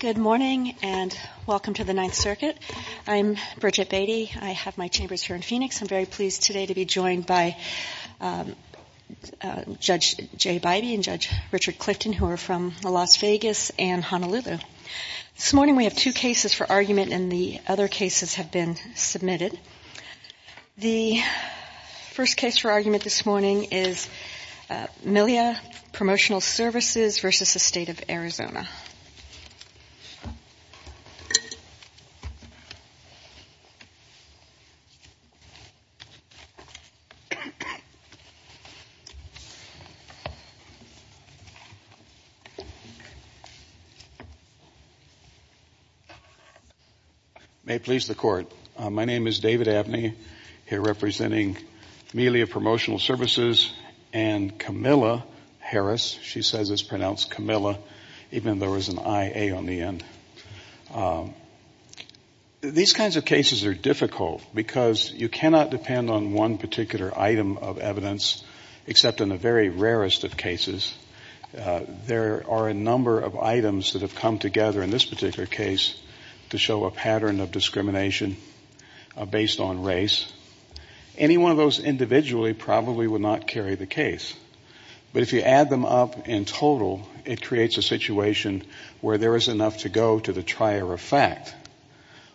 Good morning and welcome to the Ninth Circuit. I'm Bridget Beatty. I have my chambers here in Phoenix. I'm very pleased today to be joined by Judge J. Bidey and Judge Richard Clifton, who are from Las Vegas and Honolulu. This morning we have two cases for argument and the other cases have been submitted. The first case for argument this morning is Milia Promotional Services v. State of Arizona. May it please the Court. My name is David Abney, here representing Milia Promotional Services and Camilla Harris. She says it's pronounced Camilla, even though there was an I-A on the end. These kinds of cases are difficult because you cannot depend on one particular item of evidence, except in the very rarest of cases. There are a number of items that have come together in this particular case to show a pattern of discrimination based on race. Any one of those individually probably would not carry the case. But if you add them up in total, it creates a situation where there is enough to go to the trier of fact.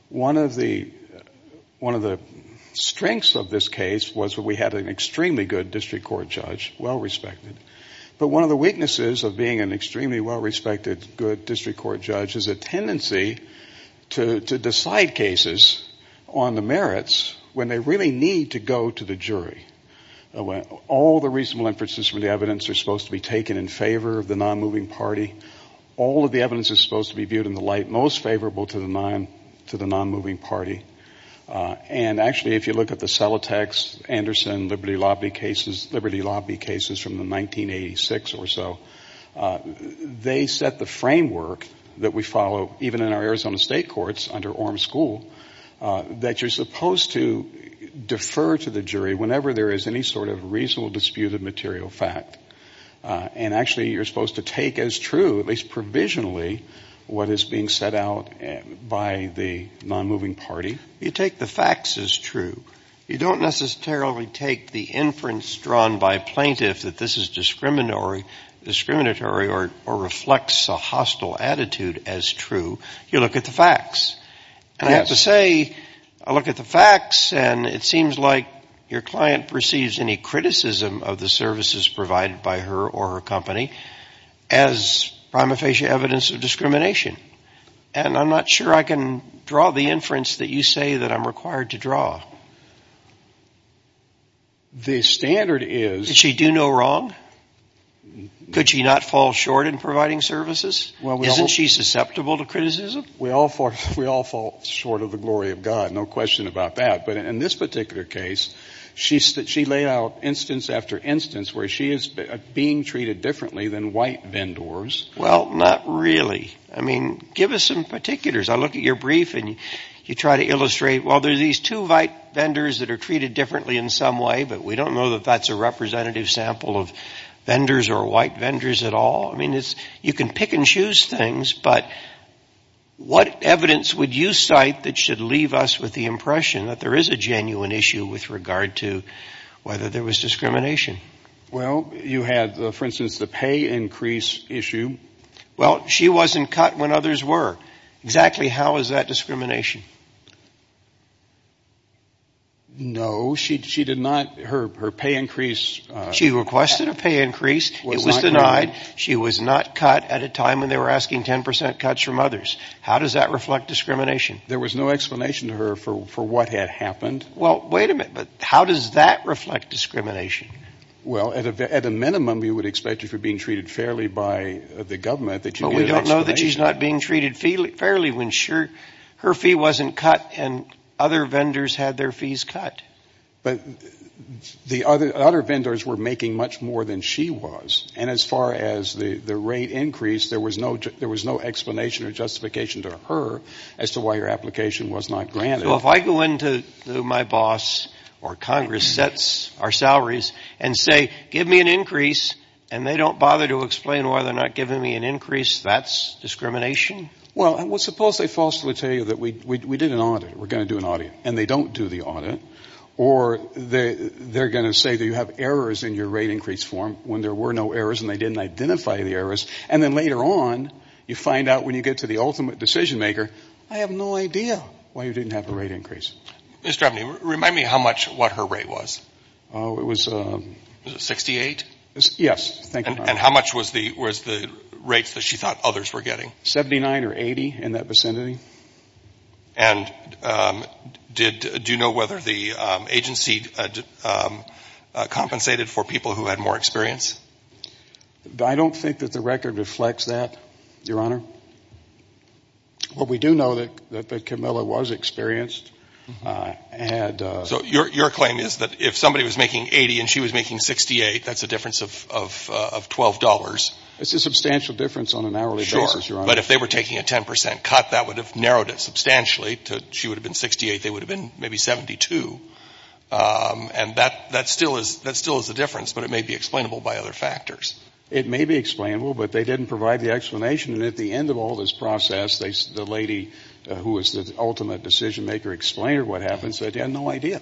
One of the strengths of this case was that we had an extremely good district court judge, well-respected. But one of the weaknesses of being an extremely well-respected good district court judge is a tendency to decide cases on the merits when they really need to go to the jury. All the reasonable inferences from the evidence are supposed to be taken in favor of the non-moving party. All of the evidence is supposed to be viewed in the light most favorable to the non-moving party. And actually, if you look at the Celotex, Anderson, Liberty Lobby cases from the 1986 or so, they set the framework that we follow, even in our Arizona State Courts under Orm School, that you're supposed to defer to the jury whenever there is any sort of reasonable disputed material fact. And actually, you're supposed to take as true, at least provisionally, what is being set out by the non-moving party. You take the facts as true. You don't necessarily take the inference drawn by plaintiffs that this is discriminatory or reflects a hostile attitude as true. You look at the facts. And I have to say, I look at the facts, and it seems like your client perceives any criticism of the services provided by her or her company as prima facie evidence of discrimination. And I'm not sure I can draw the inference that you say that I'm required to draw. The standard is... Did she do no wrong? Could she not fall short in providing services? Isn't she susceptible to criticism? We all fall short of the glory of God, no question about that. But in this particular case, she laid out instance after instance where she is being treated differently than white vendors. Well, not really. I mean, give us some particulars. I look at your brief, and you try to illustrate, well, there are these two white vendors that are treated differently in some way, but we don't know that that's a representative sample of vendors or white vendors at all. I mean, you can pick and choose things, but what evidence would you cite that should leave us with the impression that there is a genuine issue with regard to whether there was discrimination? Well, you had, for instance, the pay increase issue. Well, she wasn't cut when others were. Exactly how is that discrimination? No, she did not. Her pay increase... She requested a pay increase. It was denied. She was not cut at a time when they were asking 10% cuts from others. How does that reflect discrimination? There was no explanation to her for what had happened. Well, wait a minute. How does that reflect discrimination? Well, at a minimum, you would expect if you're being treated fairly by the government that you get an explanation. But we don't know that she's not being treated fairly when her fee wasn't cut and other vendors had their fees cut. But the other vendors were making much more than she was, and as far as the rate increase, there was no explanation or justification to her as to why her application was not granted. So if I go into my boss or Congress sets our salaries and say, give me an increase, and they don't bother to explain why they're not giving me an increase, that's discrimination? Well, suppose they falsely tell you that we did an audit, we're going to do an audit, and they don't do the audit. Or they're going to say that you have errors in your rate increase form when there were no errors and they didn't identify the errors. And then later on, you find out when you get to the ultimate decision-maker, I have no idea why you didn't have the rate increase. Mr. Evany, remind me how much what her rate was. It was 68? Yes. And how much was the rates that she thought others were getting? 79 or 80 in that vicinity. And do you know whether the agency compensated for people who had more experience? I don't think that the record reflects that, Your Honor. What we do know is that Camilla was experienced. So your claim is that if somebody was making 80 and she was making 68, that's a difference of $12? It's a substantial difference on an hourly basis, Your Honor. But if they were taking a 10% cut, that would have narrowed it substantially. If she would have been 68, they would have been maybe 72. And that still is a difference, but it may be explainable by other factors. It may be explainable, but they didn't provide the explanation. And at the end of all this process, the lady who was the ultimate decision-maker explained what happened, so they had no idea.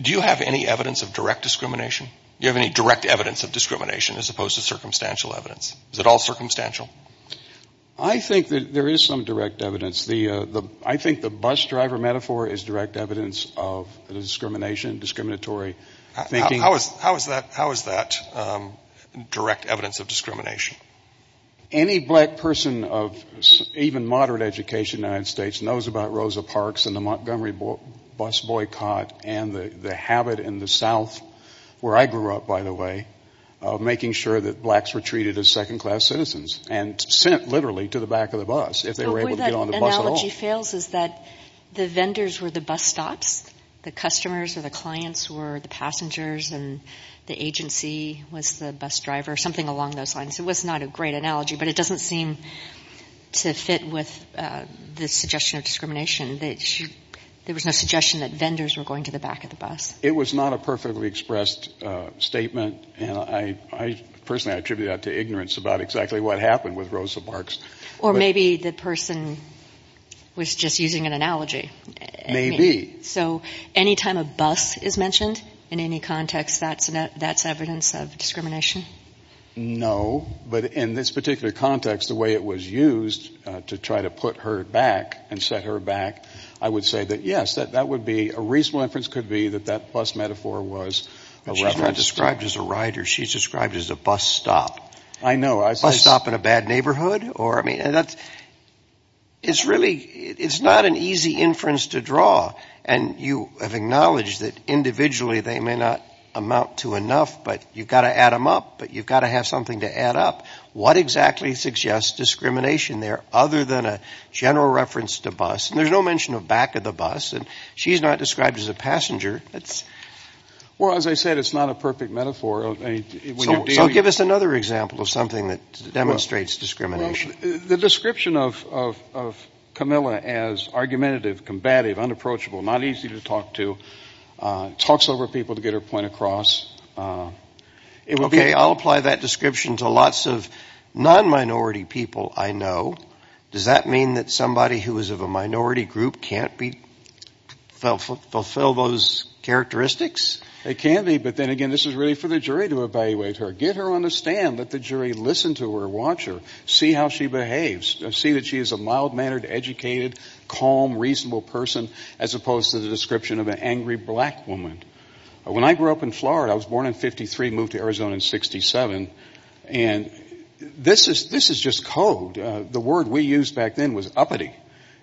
Do you have any evidence of direct discrimination? Do you have any direct evidence of discrimination as opposed to circumstantial evidence? Is it all circumstantial? I think that there is some direct evidence. I think the bus driver metaphor is direct evidence of discrimination, discriminatory thinking. How is that direct evidence of discrimination? Any black person of even moderate education in the United States knows about Rosa Parks and the Montgomery bus boycott and the habit in the South, where I grew up, by the way, of making sure that blacks were treated as second-class citizens and sent literally to the back of the bus if they were able to get on the bus at all. The way that analogy fails is that the vendors were the bus stops. The customers or the clients were the passengers, and the agency was the bus driver, something along those lines. It was not a great analogy, but it doesn't seem to fit with the suggestion of discrimination. There was no suggestion that vendors were going to the back of the bus. It was not a perfectly expressed statement. Personally, I attribute that to ignorance about exactly what happened with Rosa Parks. Or maybe the person was just using an analogy. Maybe. So any time a bus is mentioned in any context, that's evidence of discrimination? No. But in this particular context, the way it was used to try to put her back and set her back, I would say that, yes, that would be a reasonable inference could be that that bus metaphor was a reference. But she's not described as a rider. She's described as a bus stop. I know. A bus stop in a bad neighborhood? It's really not an easy inference to draw. And you have acknowledged that individually they may not amount to enough, but you've got to add them up, but you've got to have something to add up. What exactly suggests discrimination there other than a general reference to bus? And there's no mention of back of the bus. She's not described as a passenger. Well, as I said, it's not a perfect metaphor. So give us another example of something that demonstrates discrimination. The description of Camilla as argumentative, combative, unapproachable, not easy to talk to, talks over people to get her point across. Okay, I'll apply that description to lots of non-minority people I know. Does that mean that somebody who is of a minority group can't fulfill those characteristics? It can be. But then again, this is really for the jury to evaluate her, get her on the stand, let the jury listen to her, watch her, see how she behaves, see that she is a mild-mannered, educated, calm, reasonable person, as opposed to the description of an angry black woman. When I grew up in Florida, I was born in 53, moved to Arizona in 67, and this is just code. The word we used back then was uppity,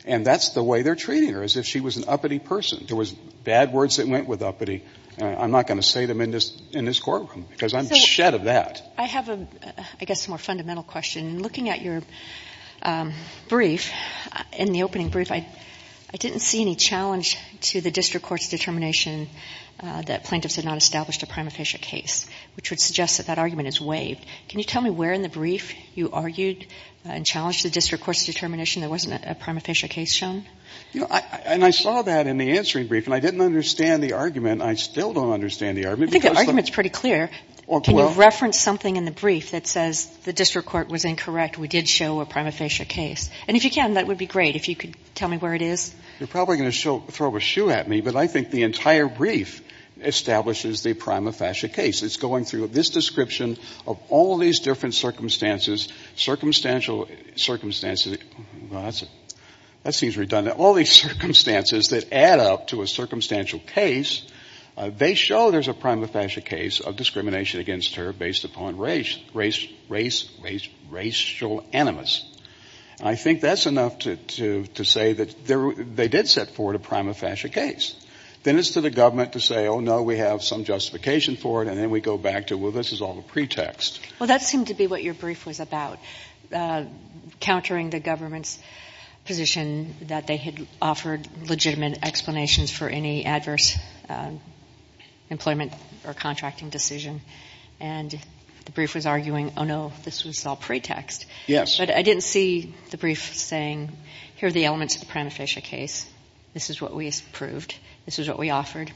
and that's the way they're treating her, as if she was an uppity person. There was bad words that went with uppity. I'm not going to say them in this courtroom because I'm shed of that. I have, I guess, a more fundamental question. Looking at your brief, in the opening brief, I didn't see any challenge to the district court's determination that plaintiffs had not established a prima facie case, which would suggest that that argument is waived. Can you tell me where in the brief you argued and challenged the district court's determination there wasn't a prima facie case shown? And I saw that in the answering brief, and I didn't understand the argument. I still don't understand the argument. I think the argument is pretty clear. Can you reference something in the brief that says the district court was incorrect, we did show a prima facie case? And if you can, that would be great if you could tell me where it is. You're probably going to throw a shoe at me, but I think the entire brief establishes the prima facie case. It's going through this description of all these different circumstances, circumstantial circumstances. Well, that seems redundant. In all these circumstances that add up to a circumstantial case, they show there's a prima facie case of discrimination against her based upon race, racial animus. I think that's enough to say that they did set forth a prima facie case. Then it's to the government to say, oh, no, we have some justification for it, and then we go back to, well, this is all a pretext. Well, that seemed to be what your brief was about, countering the government's position that they had offered legitimate explanations for any adverse employment or contracting decision. And the brief was arguing, oh, no, this was all pretext. Yes. But I didn't see the brief saying, here are the elements of the prima facie case. This is what we proved. This is what we offered.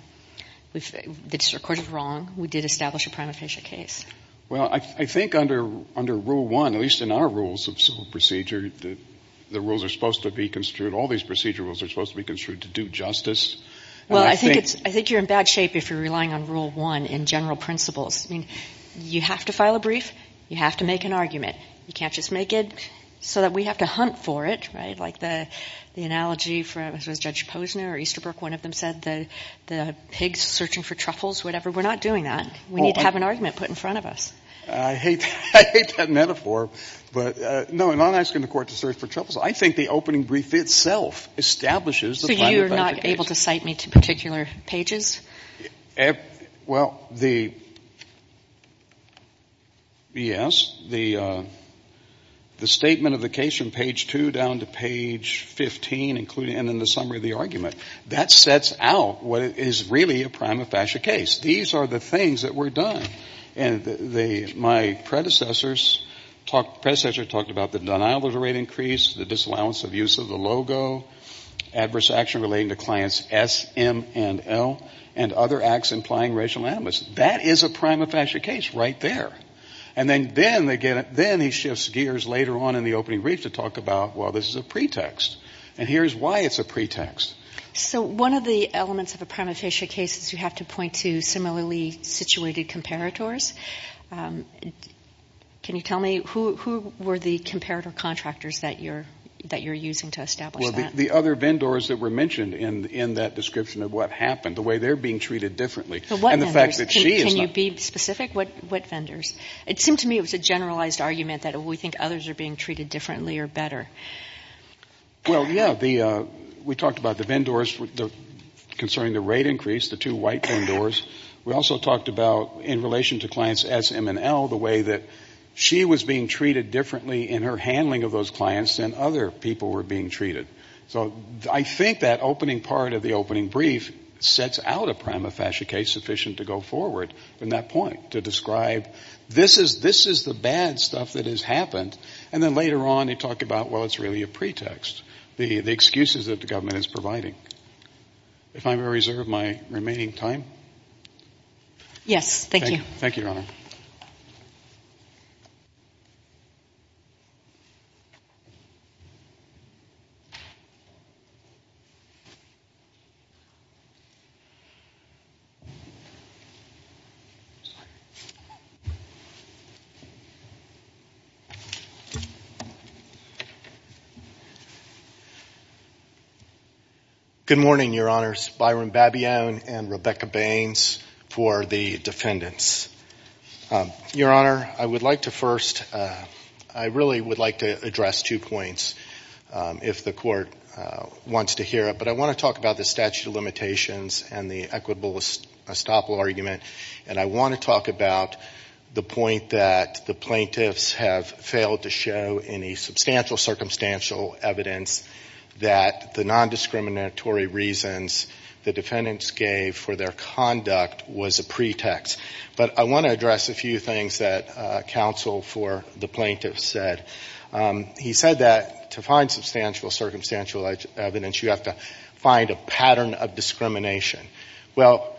The district court is wrong. We did establish a prima facie case. Well, I think under Rule 1, at least in our rules of civil procedure, the rules are supposed to be construed, all these procedure rules are supposed to be construed to do justice. Well, I think you're in bad shape if you're relying on Rule 1 in general principles. I mean, you have to file a brief. You have to make an argument. You can't just make it so that we have to hunt for it, right, like the analogy from Judge Posner or Easterbrook. One of them said the pigs searching for truffles, whatever. We're not doing that. We need to have an argument put in front of us. I hate that metaphor. But, no, and I'm not asking the Court to search for truffles. I think the opening brief itself establishes the prima facie case. So you're not able to cite me to particular pages? Well, the yes, the statement of the case from page 2 down to page 15, and then the summary of the argument, that sets out what is really a prima facie case. These are the things that were done. And my predecessors talked about the denial of the rate increase, the disallowance of use of the logo, adverse action relating to clients S, M, and L, and other acts implying racial animus. That is a prima facie case right there. And then he shifts gears later on in the opening brief to talk about, well, this is a pretext. And here's why it's a pretext. So one of the elements of a prima facie case is you have to point to similarly situated comparators. Can you tell me who were the comparator contractors that you're using to establish that? Well, the other vendors that were mentioned in that description of what happened, the way they're being treated differently. And the fact that she is not. Can you be specific? What vendors? It seemed to me it was a generalized argument that we think others are being treated differently or better. Well, yeah. We talked about the vendors concerning the rate increase, the two white vendors. We also talked about in relation to clients S, M, and L, the way that she was being treated differently in her handling of those clients than other people were being treated. So I think that opening part of the opening brief sets out a prima facie case sufficient to go forward from that point, to describe this is the bad stuff that has happened. And then later on you talk about, well, it's really a pretext, the excuses that the government is providing. If I may reserve my remaining time. Yes, thank you. Thank you, Your Honor. Good morning, Your Honors. Byron Babione and Rebecca Baines for the defendants. Your Honor, I would like to first, I really would like to address two points if the court wants to hear it. But I want to talk about the statute of limitations and the equitable estoppel argument. And I want to talk about the point that the plaintiffs have failed to show any substantial circumstantial evidence that the nondiscriminatory reasons the defendants gave for their conduct was a pretext. But I want to address a few things that counsel for the plaintiffs said. He said that to find substantial circumstantial evidence, you have to find a pattern of discrimination. Well,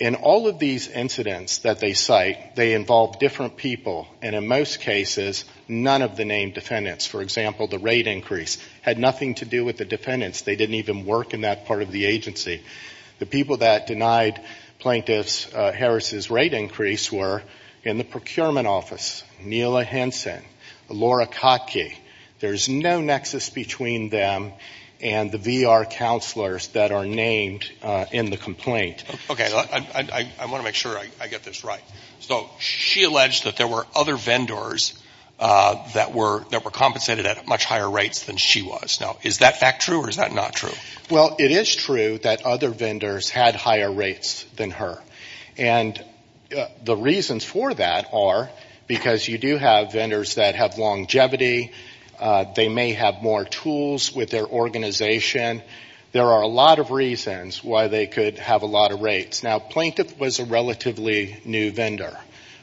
in all of these incidents that they cite, they involve different people. And in most cases, none of the named defendants. For example, the rate increase had nothing to do with the defendants. They didn't even work in that part of the agency. The people that denied plaintiffs Harris's rate increase were in the procurement office. There's no nexus between them and the VR counselors that are named in the complaint. Okay. I want to make sure I get this right. So she alleged that there were other vendors that were compensated at much higher rates than she was. Now, is that fact true or is that not true? Well, it is true that other vendors had higher rates than her. And the reasons for that are because you do have vendors that have longevity. They may have more tools with their organization. There are a lot of reasons why they could have a lot of rates. Now, Plaintiff was a relatively new vendor.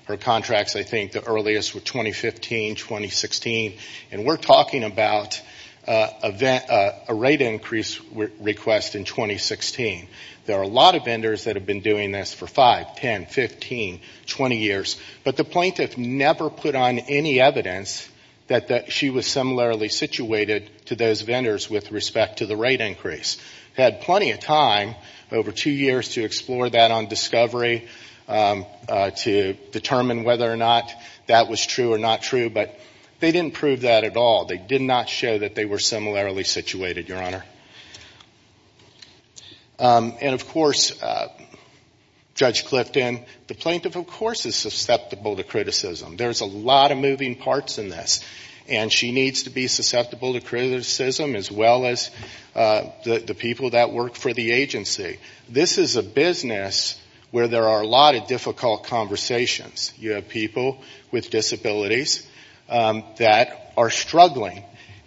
Her contracts, I think, the earliest were 2015, 2016. And we're talking about a rate increase request in 2016. There are a lot of vendors that have been doing this for 5, 10, 15, 20 years. But the plaintiff never put on any evidence that she was similarly situated to those vendors with respect to the rate increase. Had plenty of time over two years to explore that on discovery, to determine whether or not that was true or not true. But they didn't prove that at all. They did not show that they were similarly situated, Your Honor. And, of course, Judge Clifton, the plaintiff, of course, is susceptible to criticism. There's a lot of moving parts in this. And she needs to be susceptible to criticism as well as the people that work for the agency. This is a business where there are a lot of difficult conversations. You have people with disabilities that are struggling.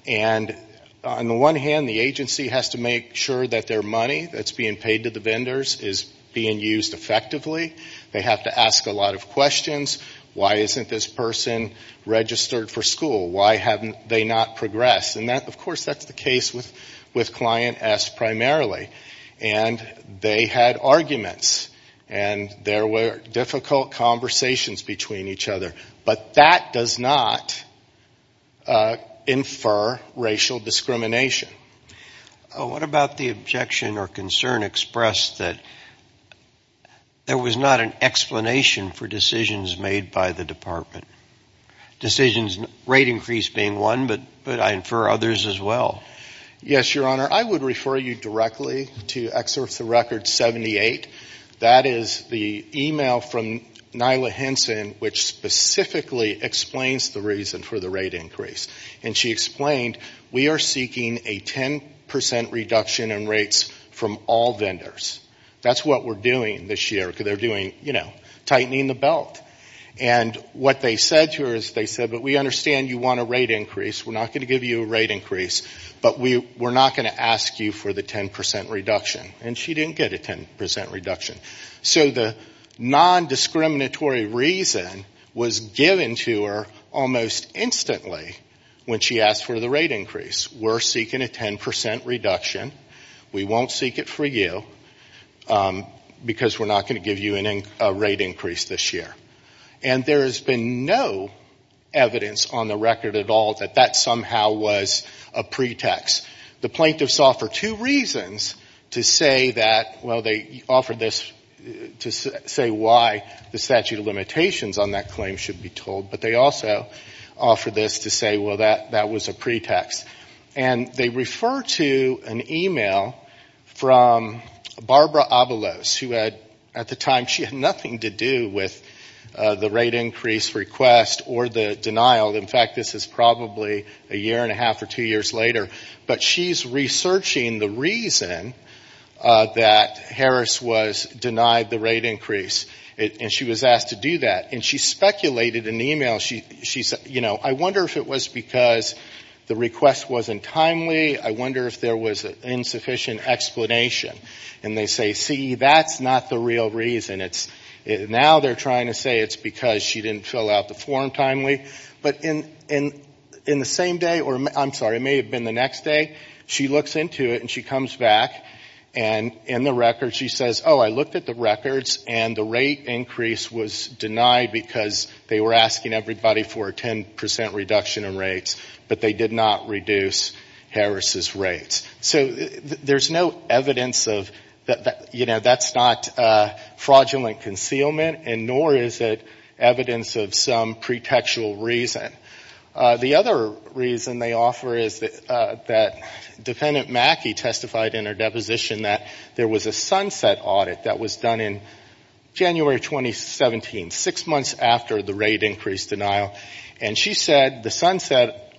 And on the one hand, the agency has to make sure that their money that's being paid to the vendors is being used effectively. They have to ask a lot of questions. Why isn't this person registered for school? Why haven't they not progressed? And, of course, that's the case with client S primarily. And they had arguments. And there were difficult conversations between each other. But that does not infer racial discrimination. What about the objection or concern expressed that there was not an explanation for decisions made by the department? Decisions, rate increase being one, but I infer others as well. Yes, Your Honor. I would refer you directly to excerpts of Record 78. That is the email from Nyla Henson which specifically explains the reason for the rate increase. And she explained, we are seeking a 10% reduction in rates from all vendors. That's what we're doing this year because they're doing, you know, tightening the belt. And what they said to her is they said, but we understand you want a rate increase. We're not going to give you a rate increase. But we're not going to ask you for the 10% reduction. And she didn't get a 10% reduction. So the non-discriminatory reason was given to her almost instantly when she asked for the rate increase. We're seeking a 10% reduction. We won't seek it for you because we're not going to give you a rate increase this year. And there has been no evidence on the record at all that that somehow was a pretext. The plaintiffs offer two reasons to say that, well, they offer this to say why the statute of limitations on that claim should be told. But they also offer this to say, well, that was a pretext. And they refer to an email from Barbara Avalos who had, at the time, she had nothing to do with the rate increase request or the denial. In fact, this is probably a year and a half or two years later. But she's researching the reason that Harris was denied the rate increase. And she was asked to do that. And she speculated in the email. She said, you know, I wonder if it was because the request wasn't timely. I wonder if there was insufficient explanation. And they say, see, that's not the real reason. Now they're trying to say it's because she didn't fill out the form timely. But in the same day, or I'm sorry, it may have been the next day, she looks into it. And she comes back. And in the record she says, oh, I looked at the records. And the rate increase was denied because they were asking everybody for a 10% reduction in rates. But they did not reduce Harris's rates. So there's no evidence of, you know, that's not fraudulent concealment. And nor is it evidence of some pretextual reason. The other reason they offer is that Defendant Mackey testified in her deposition that there was a sunset audit that was done in January 2017, six months after the rate increase denial. And she said the sunset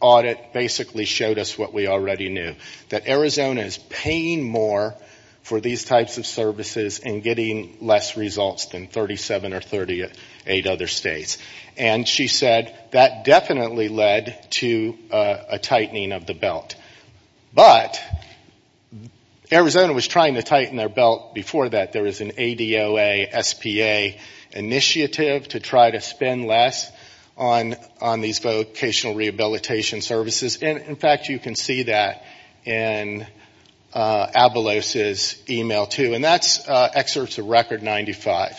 audit basically showed us what we already knew, that Arizona is paying more for these types of services and getting less results than 37 or 38 other states. And she said that definitely led to a tightening of the belt. But Arizona was trying to tighten their belt before that. There was an ADOA, SPA initiative to try to spend less on these vocational rehabilitation services. And, in fact, you can see that in Avalos' email, too. And that's excerpts of Record 95.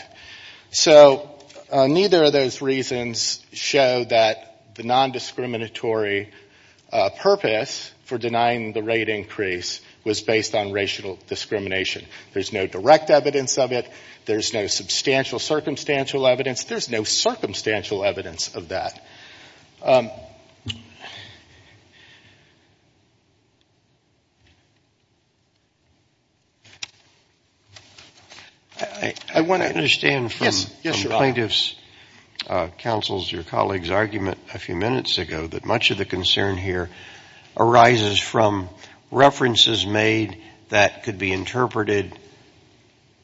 So neither of those reasons show that the nondiscriminatory purpose for denying the rate increase was based on racial discrimination. There's no direct evidence of it. There's no substantial circumstantial evidence. There's no circumstantial evidence of that. I want to understand from plaintiff's counsel's, your colleague's argument a few minutes ago that much of the concern here arises from references made that could be interpreted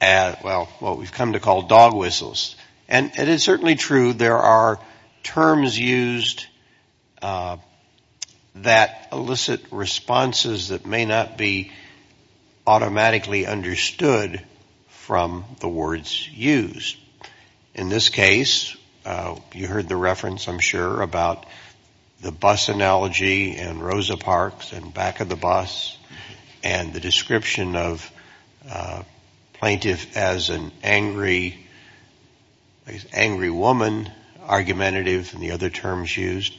as, well, what we've come to call dog whistles. And it is certainly true there are terms used that elicit responses that may not be automatically understood from the words used. In this case, you heard the reference, I'm sure, about the bus analogy and Rosa Parks and back of the bus, and the description of plaintiff as an angry woman argumentative, and the other terms used.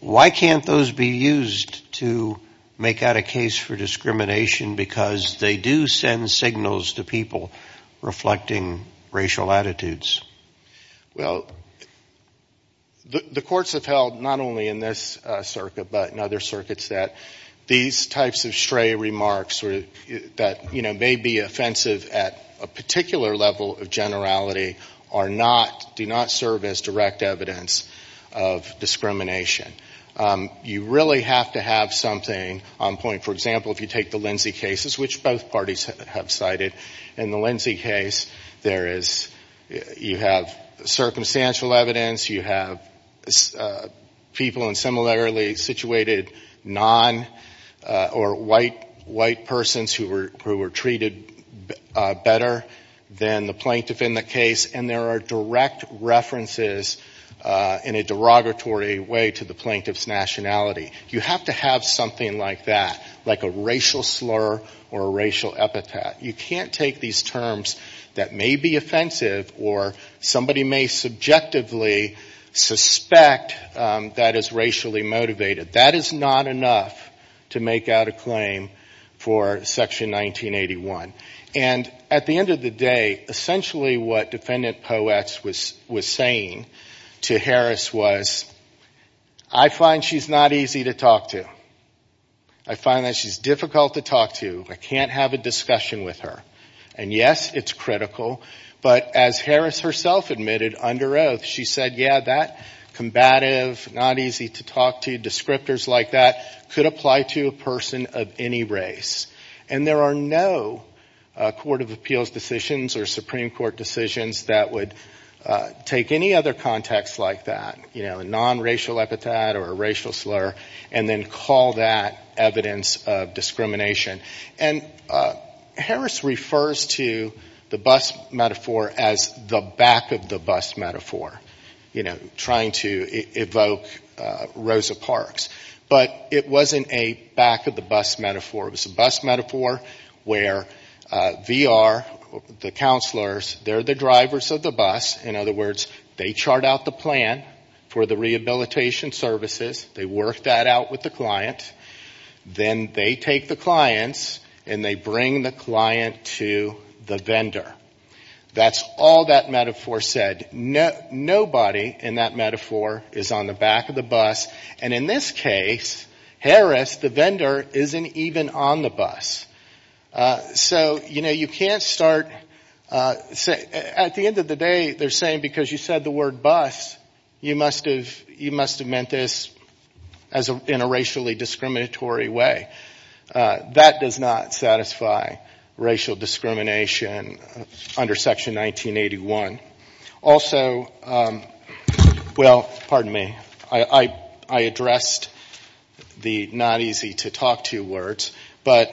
Why can't those be used to make out a case for discrimination? Because they do send signals to people reflecting racial attitudes. Well, the courts have held, not only in this circuit, but in other circuits, that these types of stray remarks that may be offensive at a particular level of generality do not serve as direct evidence of discrimination. You really have to have something on point. For example, if you take the Lindsay cases, which both parties have cited, in the Lindsay case, you have circumstantial evidence, you have people in similarly situated nonprofit or white persons who were treated better than the plaintiff in the case, and there are direct references in a derogatory way to the plaintiff's nationality. You have to have something like that, like a racial slur or a racial epithet. You can't take these terms that may be offensive or somebody may subjectively suspect that is racially motivated. That is not enough to make out a claim for Section 1981. And at the end of the day, essentially what Defendant Poets was saying to Harris was, I find she's not easy to talk to. I find that she's difficult to talk to. I can't have a discussion with her. And yes, it's critical. But as Harris herself admitted under oath, she said, yeah, that combative, not easy to talk to descriptors like that could apply to a person of any race. And there are no Court of Appeals decisions or Supreme Court decisions that would take any other context like that, a nonracial epithet or a racial slur, and then call that evidence of discrimination. And Harris refers to the bus metaphor as the back of the bus metaphor, you know, trying to evoke Rosa Parks. But it wasn't a back of the bus metaphor. It was a bus metaphor where VR, the counselors, they're the drivers of the bus. In other words, they chart out the plan for the rehabilitation services. They work that out with the client. Then they take the clients and they bring the client to the vendor. That's all that metaphor said. Nobody in that metaphor is on the back of the bus. And in this case, Harris, the vendor, isn't even on the bus. So, you know, you can't start, at the end of the day, they're saying because you said the word bus, you must have meant this in a racially discriminatory way. That does not satisfy racial discrimination under Section 1981. Also, well, pardon me, I addressed the not easy to talk to words. But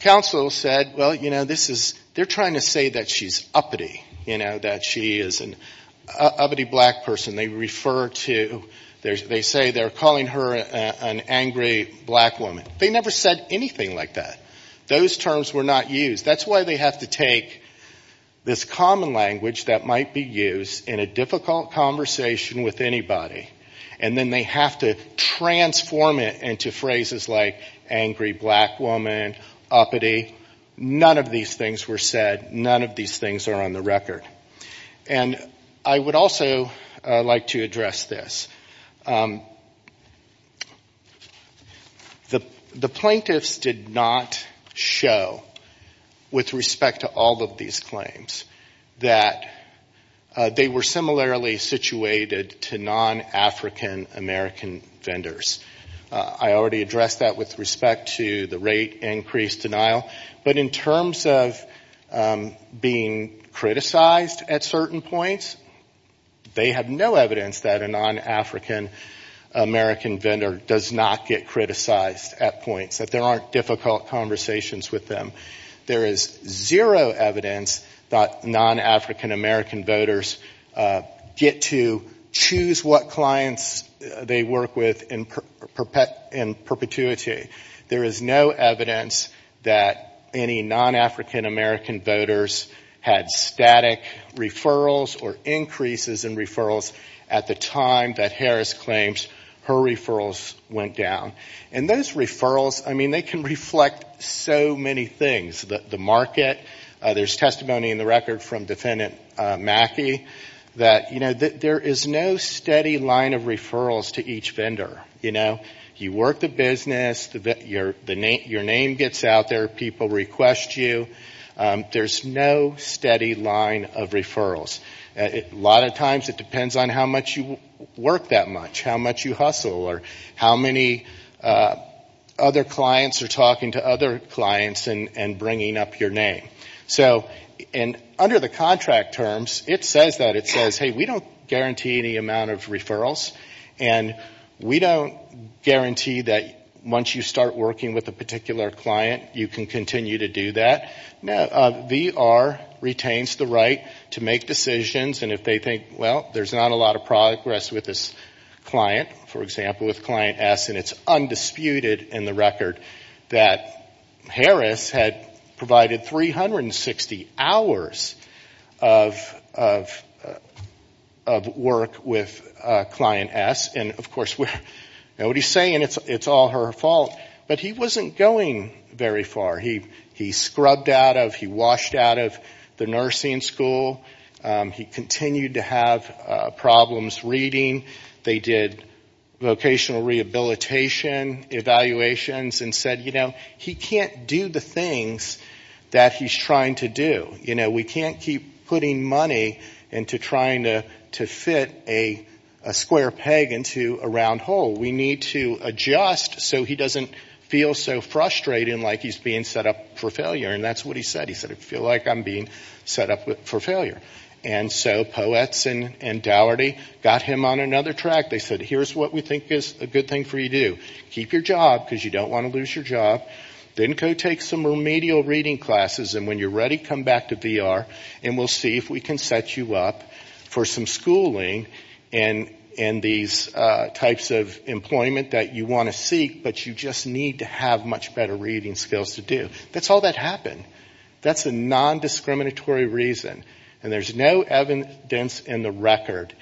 counsel said, well, you know, this is, they're trying to say that she's uppity. You know, that she is an uppity black person. They refer to, they say they're calling her an angry black woman. They never said anything like that. Those terms were not used. That's why they have to take this common language that might be used in a difficult conversation with anybody, and then they have to transform it into phrases like angry black woman, uppity. None of these things were said. None of these things are on the record. And I would also like to address this. The plaintiffs did not show, with respect to all of these claims, that they were similarly situated to non-African American vendors. I already addressed that with respect to the rate increase denial. But in terms of being criticized at certain points, they have no evidence that a non-African American vendor does not get criticized at points, that there aren't difficult conversations with them. There is zero evidence that non-African American voters get to choose what clients they work with in perpetuity. There is no evidence that any non-African American voters had static referrals or increases in referrals at the time that Harris claims her referrals went down. And those referrals, I mean, they can reflect so many things. The market, there's testimony in the record from Defendant Mackey that, you know, there is no steady line of referrals to each vendor. You know, you work the business, your name gets out there, people request you, there's no steady line of referrals. A lot of times it depends on how much you work that much, how much you hustle, or how many other clients are talking to other clients and bringing up your name. So, and under the contract terms, it says that, it says, hey, we don't guarantee any amount of referrals. And we don't guarantee that once you start working with a particular client, you can continue to do that. VR retains the right to make decisions, and if they think, well, there's not a lot of progress with this client, for example, with Client S, and it's undisputed in the record that Harris had provided 360 hours of work with Client S. And, of course, what he's saying, it's all her fault, but he wasn't going very far. He scrubbed out of, he washed out of the nursing school, he continued to have problems reading, they did vocational rehabilitation evaluations, and said, you know, he can't do the things that he's trying to do. You know, we can't keep putting money into trying to fit a square package. We need to adjust so he doesn't feel so frustrated and like he's being set up for failure, and that's what he said. He said, I feel like I'm being set up for failure. And so Poets and Daugherty got him on another track, they said, here's what we think is a good thing for you to do. Keep your job, because you don't want to lose your job. Then go take some remedial reading classes, and when you're ready, come back to VR, and we'll see if we can set you up for some schooling in these types of employment that you want to seek, but you just need to have much better reading skills to do. That's all that happened. That's a nondiscriminatory reason, and there's no evidence in the record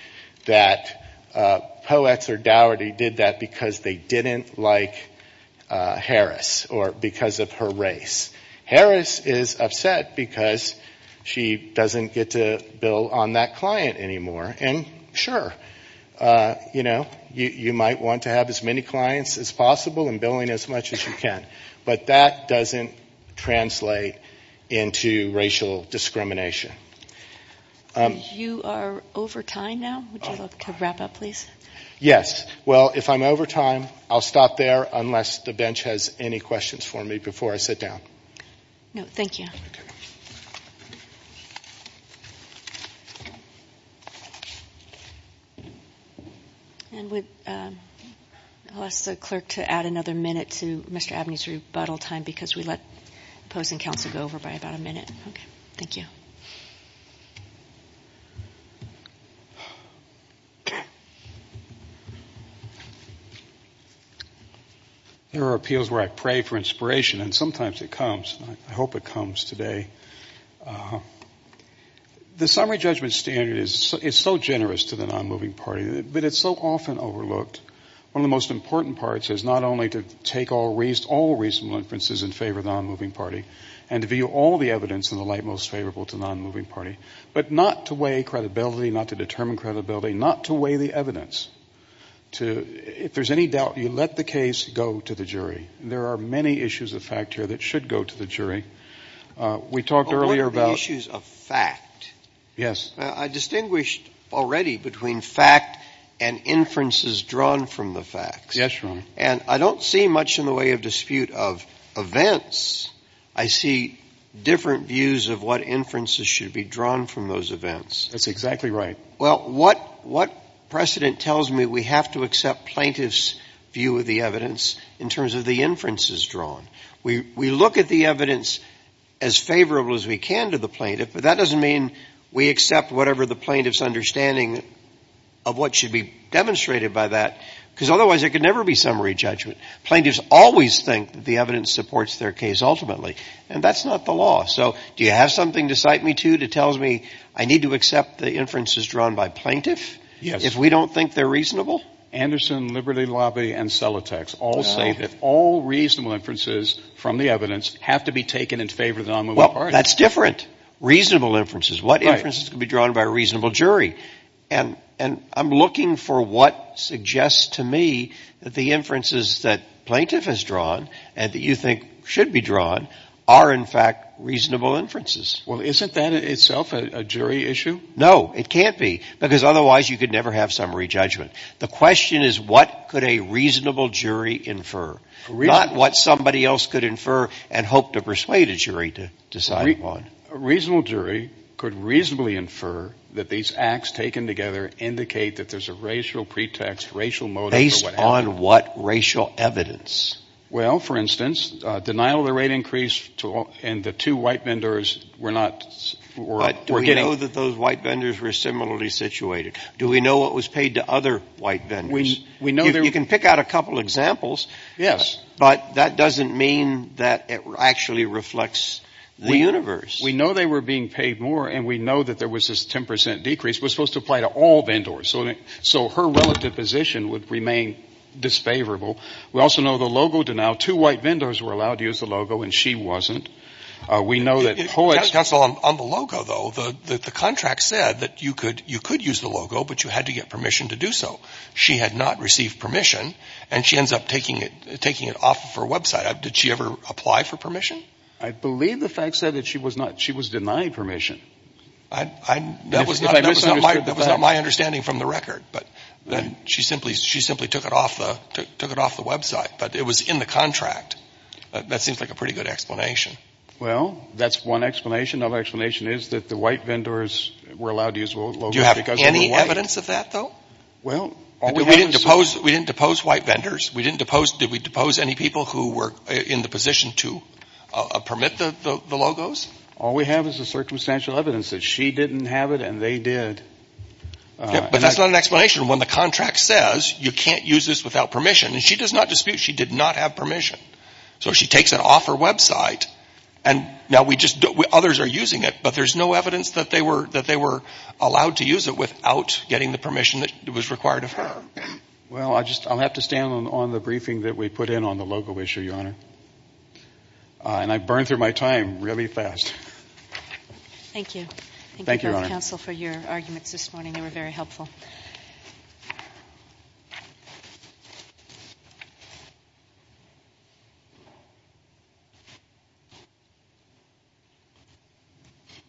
that Poets or Daugherty did that because they didn't like Harris, or because of her race. Harris is upset because she doesn't get to bill on that client anymore, and sure, you might want to have as many clients as possible and billing as much as you can, but that doesn't translate into racial discrimination. You are over time now. Would you like to wrap up, please? Yes. Well, if I'm over time, I'll stop there, unless the bench has any questions for me before I sit down. No, thank you. And we'll ask the clerk to add another minute to Mr. Abney's rebuttal time, because we let opposing counsel go over by about a minute. Thank you. There are appeals where I pray for inspiration, and sometimes it comes, and I hope it comes today. The summary judgment standard is so generous to the nonmoving party, but it's so often overlooked. One of the most important parts is not only to take all reasonable inferences in favor of the nonmoving party, and to view all the evidence in the light most favorable to the nonmoving party, but not to weigh credibility, not to determine credibility, not to weigh the evidence, to, if there's any doubt, you let the case go to the jury. There are many issues of fact here that should go to the jury. We talked earlier about the issues of fact. Yes. I distinguished already between fact and inferences drawn from the facts. And I don't see much in the way of dispute of events. I see different views of what inferences should be drawn from those events. That's exactly right. Well, what precedent tells me we have to accept plaintiff's view of the evidence in terms of the inferences drawn? We look at the evidence as favorable as we can to the plaintiff, but that doesn't mean we accept whatever the plaintiff's understanding of what should be demonstrated by that. Because otherwise there could never be summary judgment. Plaintiffs always think that the evidence supports their case ultimately, and that's not the law. So do you have something to cite me to that tells me I need to accept the inferences drawn by plaintiff if we don't think they're reasonable? Anderson, Liberty Lobby, and Celotex all say that all reasonable inferences from the evidence have to be taken in favor of the nonmoving party. Well, that's different. We look at reasonable inferences. What inferences can be drawn by a reasonable jury? And I'm looking for what suggests to me that the inferences that plaintiff has drawn and that you think should be drawn are, in fact, reasonable inferences. Well, isn't that itself a jury issue? No, it can't be, because otherwise you could never have summary judgment. The question is what could a reasonable jury infer, not what somebody else could infer and hope to persuade a jury to decide upon. A reasonable jury could reasonably infer that these acts taken together indicate that there's a racial pretext, racial motive for what happened. Based on what racial evidence? Well, for instance, denial of the rate increase and the two white vendors were not getting... Do we know what was paid to other white vendors? You can pick out a couple examples, but that doesn't mean that it actually reflects the universe. We know they were being paid more, and we know that there was this 10 percent decrease. It was supposed to apply to all vendors, so her relative position would remain disfavorable. We also know the logo denial. The white vendors were allowed to use the logo, but you had to get permission to do so. She had not received permission, and she ends up taking it off of her website. Did she ever apply for permission? I believe the fact said that she was denied permission. That was not my understanding from the record, but she simply took it off the website. But it was in the contract. That seems like a pretty good explanation. Well, that's one explanation. Another explanation is that the white vendors were allowed to use logos because they were white. Do you have any evidence of that, though? We didn't depose white vendors. Did we depose any people who were in the position to permit the logos? All we have is the circumstantial evidence that she didn't have it and they did. But that's not an explanation. When the contract says you can't use this without permission, and she does not dispute she did not have permission. So she takes it off her website, and now others are using it, but there's no evidence that they were allowed to use it without getting the permission that was required of her. Well, I'll have to stand on the briefing that we put in on the logo issue, Your Honor. And I burned through my time really fast. Thank you. Thank you.